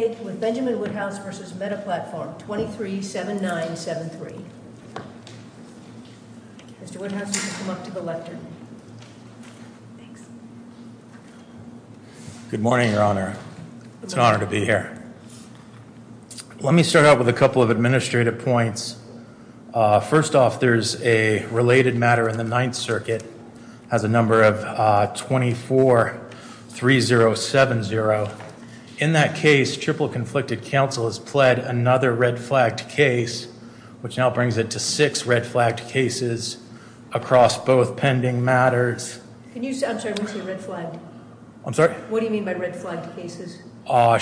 with Benjamin Woodhouse v. Meta Platform 237973. Mr. Woodhouse, you can come up to the left here. Thanks. Good morning, Your Honor. It's an honor to be here. Let me start out with a couple of administrative points. First off, there's a related matter in the Ninth Circuit. It has a red flagged case. In that case, triple conflicted counsel has pled another red flagged case, which now brings it to six red flagged cases across both pending matters. I'm sorry, what do you mean by red flagged cases?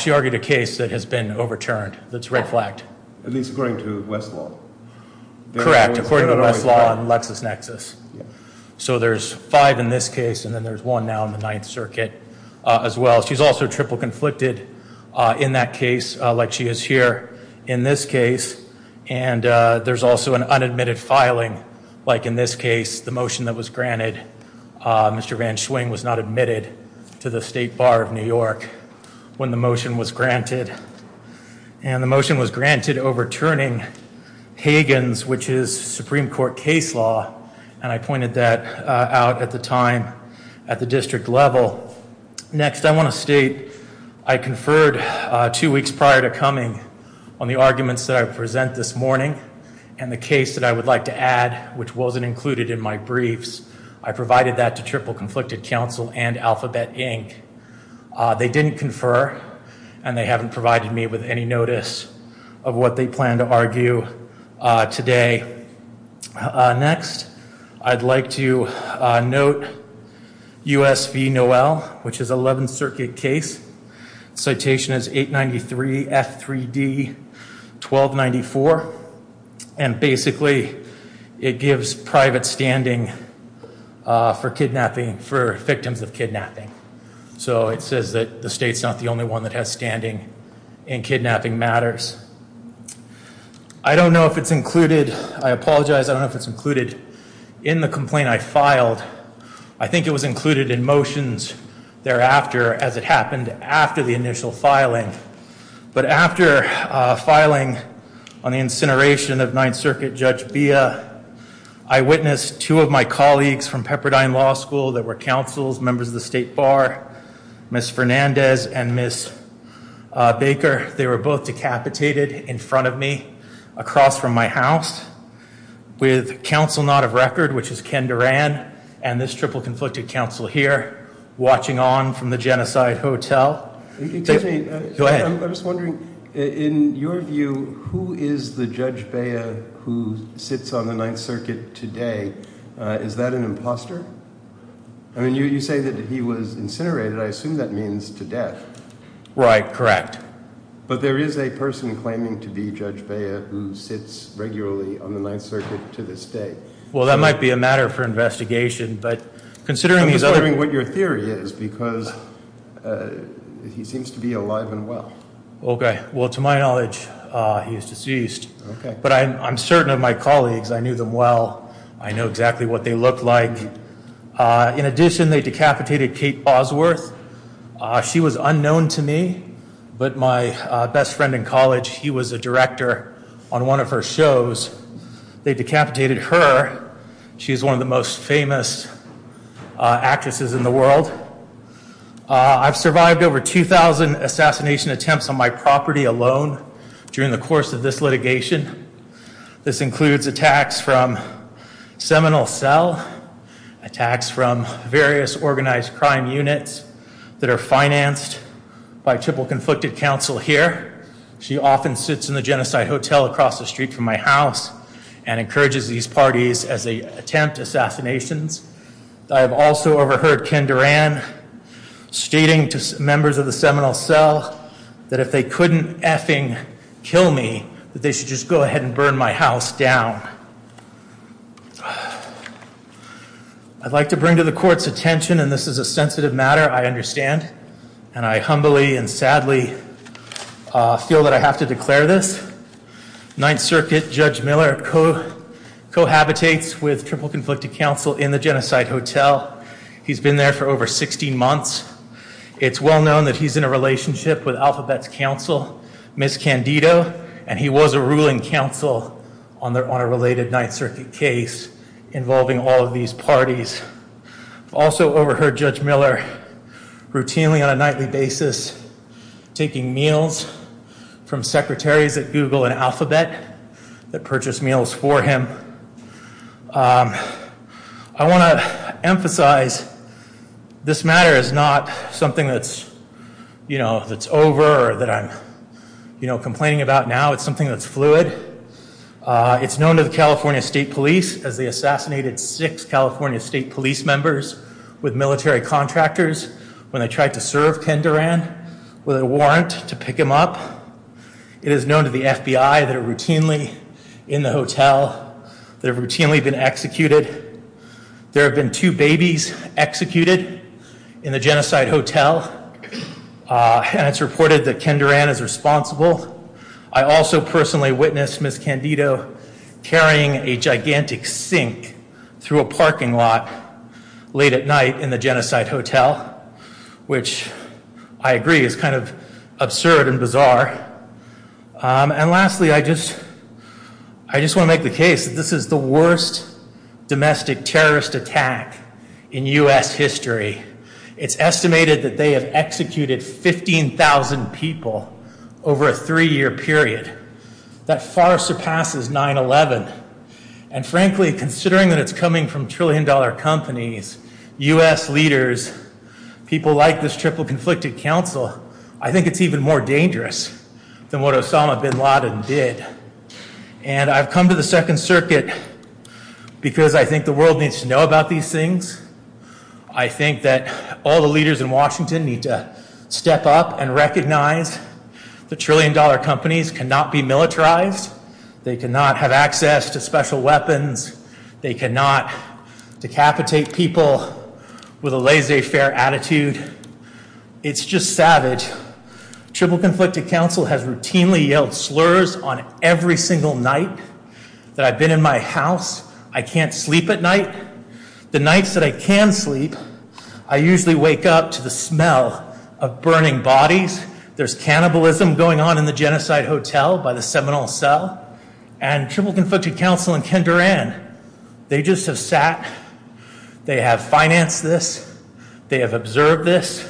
She argued a case that has been overturned that's red flagged. At least according to Westlaw. Correct, according to Westlaw and LexisNexis. So there's five in this case, and then there's one now in the Ninth Circuit as well. She's also triple conflicted in that case, like she is here in this case. And there's also an unadmitted filing, like in this case, the motion that was granted. Mr. Van Schwing was not admitted to the State Bar of New York when the motion was granted. And the motion was granted overturning Hagen's, which is Supreme Court case law. And I pointed that out at the time at the district level. Next, I want to state I conferred two weeks prior to coming on the arguments that I present this morning and the case that I would like to add, which wasn't included in my briefs. I provided that to triple conflicted counsel and Alphabet Inc. They didn't confer and they haven't provided me with any notice of what they plan to argue today. Next, I'd like to note U.S. v. Noel, which is 11th Circuit case. Citation is 893 F3D 1294. And basically, it gives private standing for kidnapping, for victims of kidnapping. So it says that the state's not the only one that has standing in kidnapping matters. I don't know if it's included. I apologize. I don't know if it's included in the complaint I filed. I think it was included in motions thereafter as it happened after the initial filing. But after filing on the incineration of Ninth Circuit Judge Bia, I witnessed two of my colleagues from Pepperdine Law School that were counsels, members of the state bar, Ms. Fernandez and Ms. Baker. They were both decapitated in front of me across from my house with counsel not of record, which is Ken Duran and this triple conflicted counsel here watching on from the Genocide Hotel. Go ahead. I'm just wondering, in your view, who is the Judge Bia who sits on the Ninth Circuit today? Is that an imposter? I mean, you say that he was incinerated. I assume that means to death. Right. Correct. But there is a person claiming to be Judge Bia who sits regularly on the Ninth Circuit to this day. Well, that might be a matter for investigation, but considering these other... I don't know what your theory is because he seems to be alive and well. Okay. Well, to my knowledge, he is deceased. Okay. But I'm certain of my colleagues. I knew them well. I know exactly what they look like. In addition, they decapitated Kate Bosworth. She was unknown to me, but my best friend in college, he was a director on one of her shows. They decapitated her. She's one of the most famous actresses in the world. I've survived over 2,000 assassination attempts on my property alone during the course of this litigation. This includes attacks from seminal cell, attacks from various organized crime units that are financed by triple conflicted counsel here. She often sits in the Genocide Hotel across the street from my house and encourages these parties as they attempt assassinations. I have also overheard Ken Duran stating to members of the seminal cell that if they couldn't effing kill me, that they should just go ahead and burn my house down. I'd like to bring to the court's attention, and this is a sensitive matter, I understand, and I humbly and sadly feel that I have to declare this. Ninth Circuit Judge Miller cohabitates with triple conflicted counsel in the Genocide Hotel. He's been there for over 16 months. It's well known that he's in a relationship with Alphabet's counsel, Ms. Candido, and he was a ruling counsel on a related Ninth Circuit case involving all of these parties. Also overheard Judge Miller routinely on a nightly basis taking meals from secretaries at Google and Alphabet that purchased meals for him. I want to emphasize this matter is not something that's over or that I'm complaining about now. It's something that's fluid. It's known to the California State Police as they assassinated six California State Police members with military contractors when they tried to serve Ken Duran with a warrant to pick him up. It is known to the FBI that are routinely in the hotel, that have routinely been executed. There have been two babies executed in the Genocide Hotel, and it's reported that Ken Duran is responsible. I also personally witnessed Ms. Candido carrying a gigantic sink through a parking lot late at night in the Genocide Hotel, which I agree is kind of absurd and bizarre. And lastly, I just want to make the case that this is the worst domestic terrorist attack in U.S. history. It's estimated that they have executed 15,000 people over a three-year period. That far surpasses 9-11. And frankly, considering that it's coming from trillion-dollar companies, U.S. leaders, people like this triple-conflicted council, I think it's even more dangerous than what Osama bin Laden did. And I've come to the Second Circuit because I think the world needs to know about these things. I think that all the leaders in Washington need to step up and recognize that trillion-dollar companies cannot be militarized. They cannot have access to special weapons. They cannot decapitate people with a laissez-faire attitude. It's just savage. Triple-conflicted council has routinely yelled slurs on every single night that I've been in my house. I can't sleep at night. The nights that I can sleep, I usually wake up to the smell of burning bodies. There's cannibalism going on in the Genocide Hotel by the Seminole Cell. And triple-conflicted council and Ken Duran, they just have sat, they have financed this, they have observed this.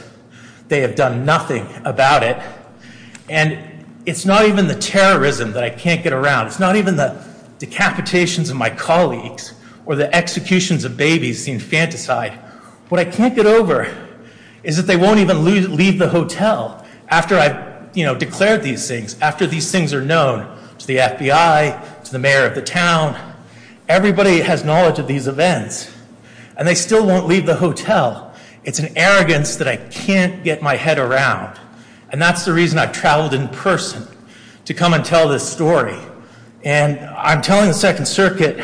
They have done nothing about it. And it's not even the terrorism that I can't get around. It's not even the decapitations of my colleagues or the executions of babies, the infanticide. What I can't get over is that they won't even leave the hotel after I've, you know, declared these things, after these things are known to the FBI, to the mayor of the town. Everybody has knowledge of these events. And they still won't leave the hotel. It's an arrogance that I can't get my head around. And that's the reason I've traveled in person to come and tell this story. And I'm telling the Second Circuit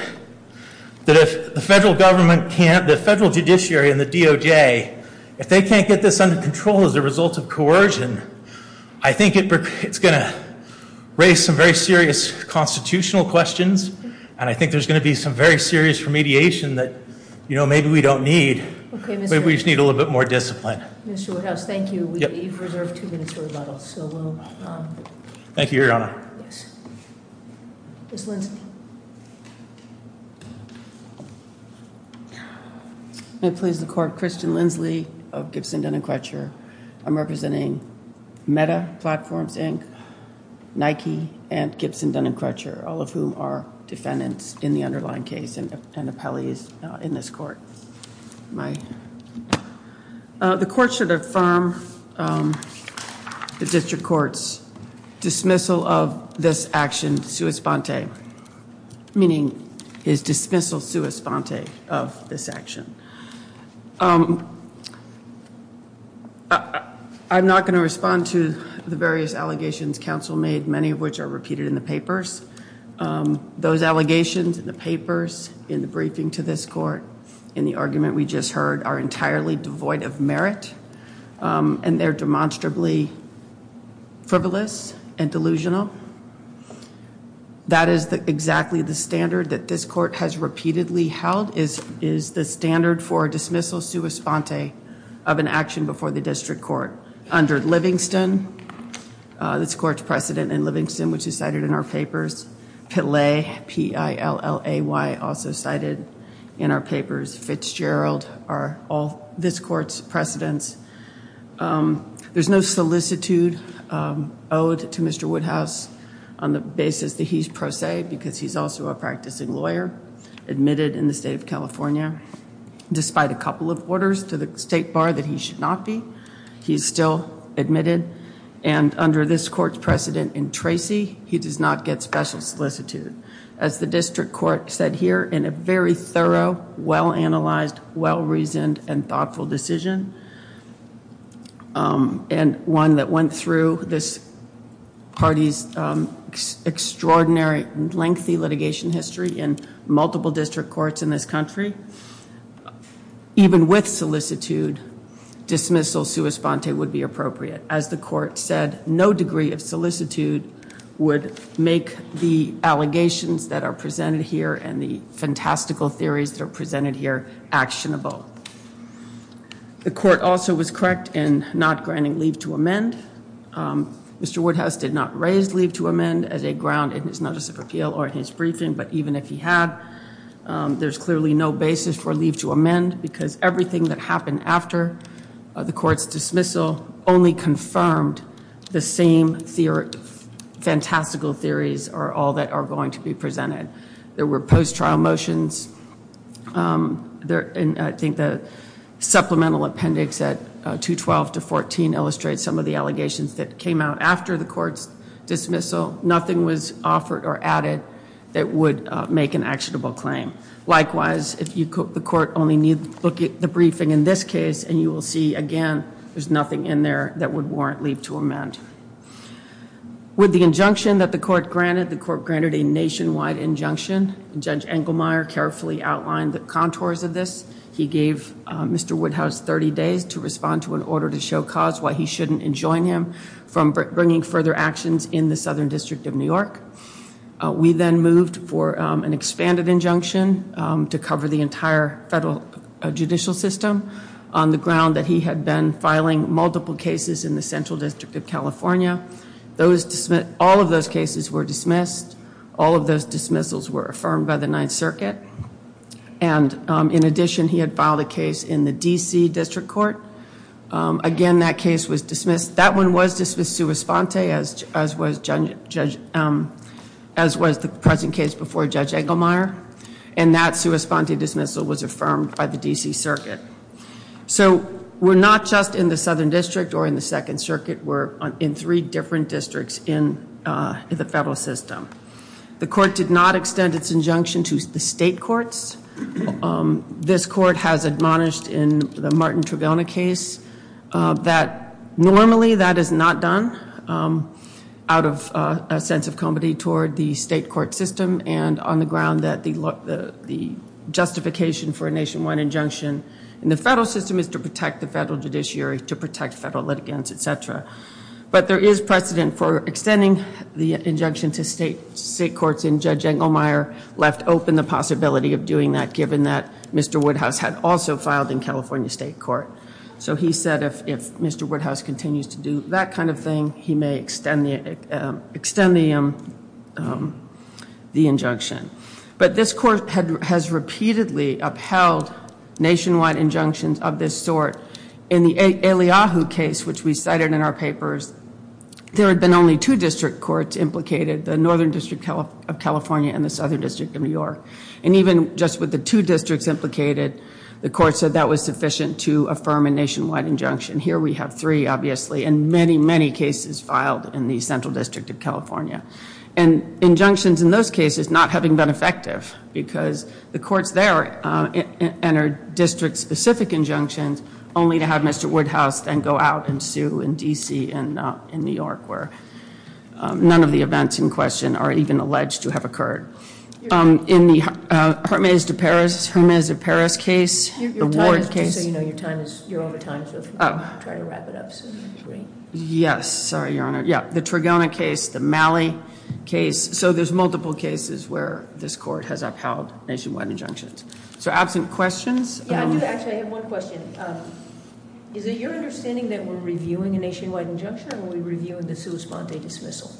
that if the federal government can't, the federal judiciary and the DOJ, if they can't get this under control as a result of coercion, I think it's going to raise some very serious constitutional questions. And I think there's going to be some very serious remediation that, you know, maybe we don't need. Maybe we just need a little bit more discipline. Mr. Woodhouse, thank you. We've reserved two minutes for rebuttals. So we'll... Thank you, Your Honor. Yes. Ms. Lindsley. May it please the court, Kristen Lindsley of Gibson, Dun & Crutcher. I'm representing Meta Platforms, Inc., Nike, and Gibson, Dun & Crutcher, all of whom are defendants in the underlying case and appellees in this court. My... The court should affirm the district court's dismissal of this action sua sponte, meaning his dismissal sua sponte of this action. I'm not going to respond to the various allegations counsel made, many of which are repeated in the papers. Those allegations in the papers, in the briefing to this court, in the argument we just heard, are entirely devoid of merit, and they're demonstrably frivolous and delusional. That is exactly the standard that this court has repeatedly held, is the standard for dismissal sua sponte of an action before the district court. Under Livingston, this court's precedent in Livingston, which is cited in our papers. Pillay, P-I-L-L-A-Y, also cited in our papers. Fitzgerald are all this court's precedents. There's no solicitude owed to Mr. Woodhouse on the basis that he's pro se, because he's also a practicing lawyer admitted in the state of California. Despite a couple of orders to the state bar that he should not be, he's still admitted, and under this court's precedent in Tracy, he does not get special solicitude. As the district court said here, in a very thorough, well-analyzed, well-reasoned, and thoughtful decision, and one that went through this party's extraordinary lengthy litigation history in multiple district courts in this country, even with solicitude, dismissal sua sponte would be appropriate. As the court said, no degree of solicitude would make the allegations that are presented here and the fantastical theories that are presented here actionable. The court also was correct in not granting leave to amend. Mr. Woodhouse did not raise leave to amend as a ground in his notice of appeal or in his briefing, but even if he had, there's clearly no basis for leave to amend, because everything that happened after the court's dismissal only confirmed the same fantastical theories are all that are going to be presented. There were post-trial motions, and I think the supplemental appendix at 212 to 14 illustrates some of the allegations that came out after the court's dismissal. Nothing was offered or added that would make an actionable claim. Likewise, the court only needs to look at the briefing in this case, and you will see, again, there's nothing in there that would warrant leave to amend. With the injunction that the court granted, the court granted a nationwide injunction. Judge Engelmeyer carefully outlined the contours of this. He gave Mr. Woodhouse 30 days to respond to an order to show cause why he shouldn't enjoin him from bringing further actions in the Southern District of New York. We then moved for an expanded injunction to cover the entire federal judicial system on the ground that he had been filing multiple cases in the Central District of California. All of those cases were dismissed. All of those dismissals were affirmed by the Ninth Circuit. In addition, he had filed a case in the D.C. District Court. Again, that case was dismissed. That one was dismissed sua sponte, as was the present case before Judge Engelmeyer, and that sua sponte dismissal was affirmed by the D.C. Circuit. So we're not just in the Southern District or in the Second Circuit. We're in three different districts in the federal system. The court did not extend its injunction to the state courts. This court has admonished in the Martin Trigona case that normally that is not done out of a sense of comedy toward the state court system and on the ground that the justification for a nationwide injunction in the federal system is to protect the federal judiciary, to protect federal litigants, et cetera. But there is precedent for extending the injunction to state courts, and Judge Engelmeyer left open the possibility of doing that given that Mr. Woodhouse had also filed in California State Court. So he said if Mr. Woodhouse continues to do that kind of thing, he may extend the injunction. But this court has repeatedly upheld nationwide injunctions of this sort. In the Eliahu case, which we cited in our papers, there had been only two district courts implicated, the Northern District of California and the Southern District of New York. And even just with the two districts implicated, the court said that was sufficient to affirm a nationwide injunction. Here we have three, obviously, and many, many cases filed in the Central District of California. And injunctions in those cases not having been effective because the courts there entered district-specific injunctions only to have Mr. Woodhouse then go out and sue in D.C. and New York where none of the events in question are even alleged to have occurred. In the Hermes de Paris case, the Ward case- Just so you know, you're over time, so if you want to try to wrap it up. Yes, sorry, Your Honor. The Trigona case, the Malley case. So there's multiple cases where this court has upheld nationwide injunctions. So absent questions- Actually, I have one question. Is it your understanding that we're reviewing a nationwide injunction or are we reviewing the sua sponte dismissal?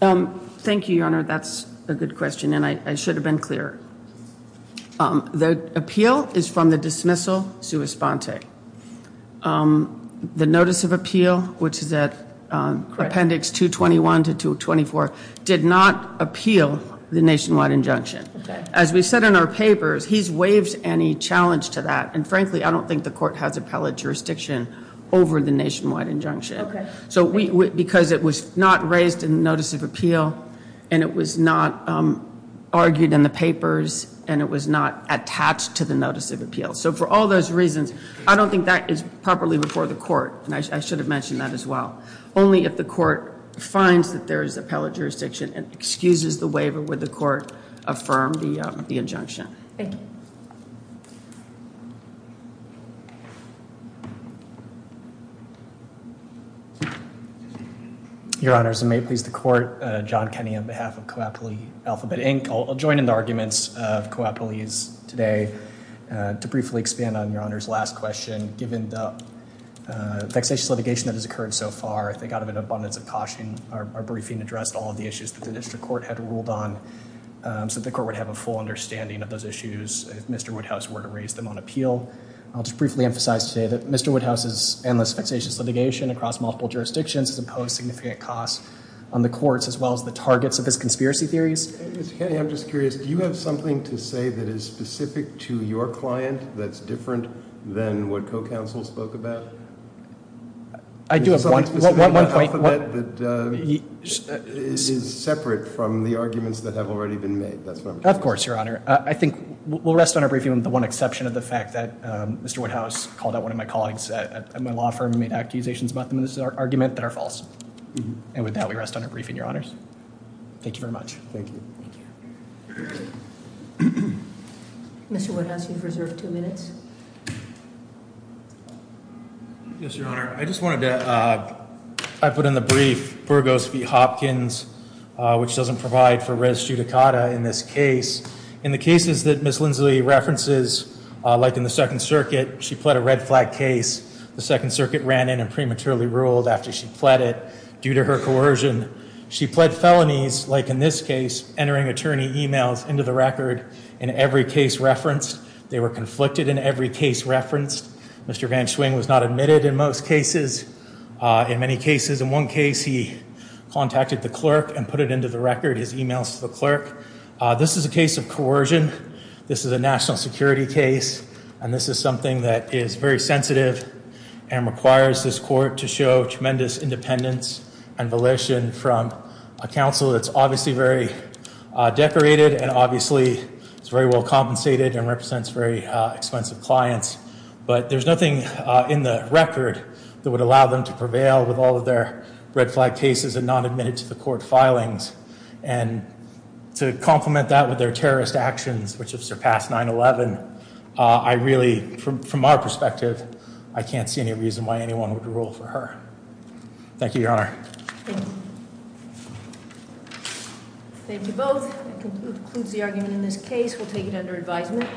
Thank you, Your Honor. That's a good question, and I should have been clearer. The appeal is from the dismissal sua sponte. The notice of appeal, which is at appendix 221 to 224, did not appeal the nationwide injunction. As we said in our papers, he's waived any challenge to that. And frankly, I don't think the court has appellate jurisdiction over the nationwide injunction. Because it was not raised in the notice of appeal, and it was not argued in the papers, and it was not attached to the notice of appeal. So for all those reasons, I don't think that is properly before the court, and I should have mentioned that as well. Only if the court finds that there is appellate jurisdiction and excuses the waiver would the court affirm the injunction. Thank you. Your Honor, as it may please the court, John Kenney on behalf of Coapulese Alphabet, Inc. I'll join in the arguments of Coapulese today to briefly expand on Your Honor's last question. Given the vexatious litigation that has occurred so far, I think out of an abundance of caution, our briefing addressed all of the issues that the district court had ruled on so that the court would have a full understanding of those issues if Mr. Woodhouse were to raise them on appeal. I'll just briefly emphasize today that Mr. Woodhouse's endless vexatious litigation across multiple jurisdictions has imposed significant costs on the courts as well as the targets of his conspiracy theories. Mr. Kenney, I'm just curious. Do you have something to say that is specific to your client that's different than what co-counsel spoke about? I do have one point. Is there something specific about Alphabet that is separate from the arguments that have already been made? Of course, Your Honor. I think we'll rest on our briefing with the one exception of the fact that Mr. Woodhouse called out one of my colleagues at my law firm and made accusations about them in this argument that are false. And with that, we rest on our briefing, Your Honors. Thank you very much. Thank you. Mr. Woodhouse, you've reserved two minutes. Yes, Your Honor. I just wanted to put in the brief Burgos v. Hopkins, which doesn't provide for res judicata in this case. In the cases that Ms. Lindsley references, like in the Second Circuit, she pled a red flag case. The Second Circuit ran in and prematurely ruled after she pled it due to her coercion. She pled felonies, like in this case, entering attorney emails into the record in every case referenced. They were conflicted in every case referenced. Mr. Van Schwing was not admitted in most cases. In many cases, in one case, he contacted the clerk and put it into the record, his emails to the clerk. This is a case of coercion. This is a national security case, and this is something that is very sensitive and requires this court to show tremendous independence and volition from a counsel that's obviously very decorated and obviously is very well compensated and represents very expensive clients. But there's nothing in the record that would allow them to prevail with all of their red flag cases and non-admitted to the court filings. And to complement that with their terrorist actions, which have surpassed 9-11, I really, from our perspective, I can't see any reason why anyone would rule for her. Thank you, Your Honor. Thank you. Thank you both. That concludes the argument in this case. We'll take it under advisement.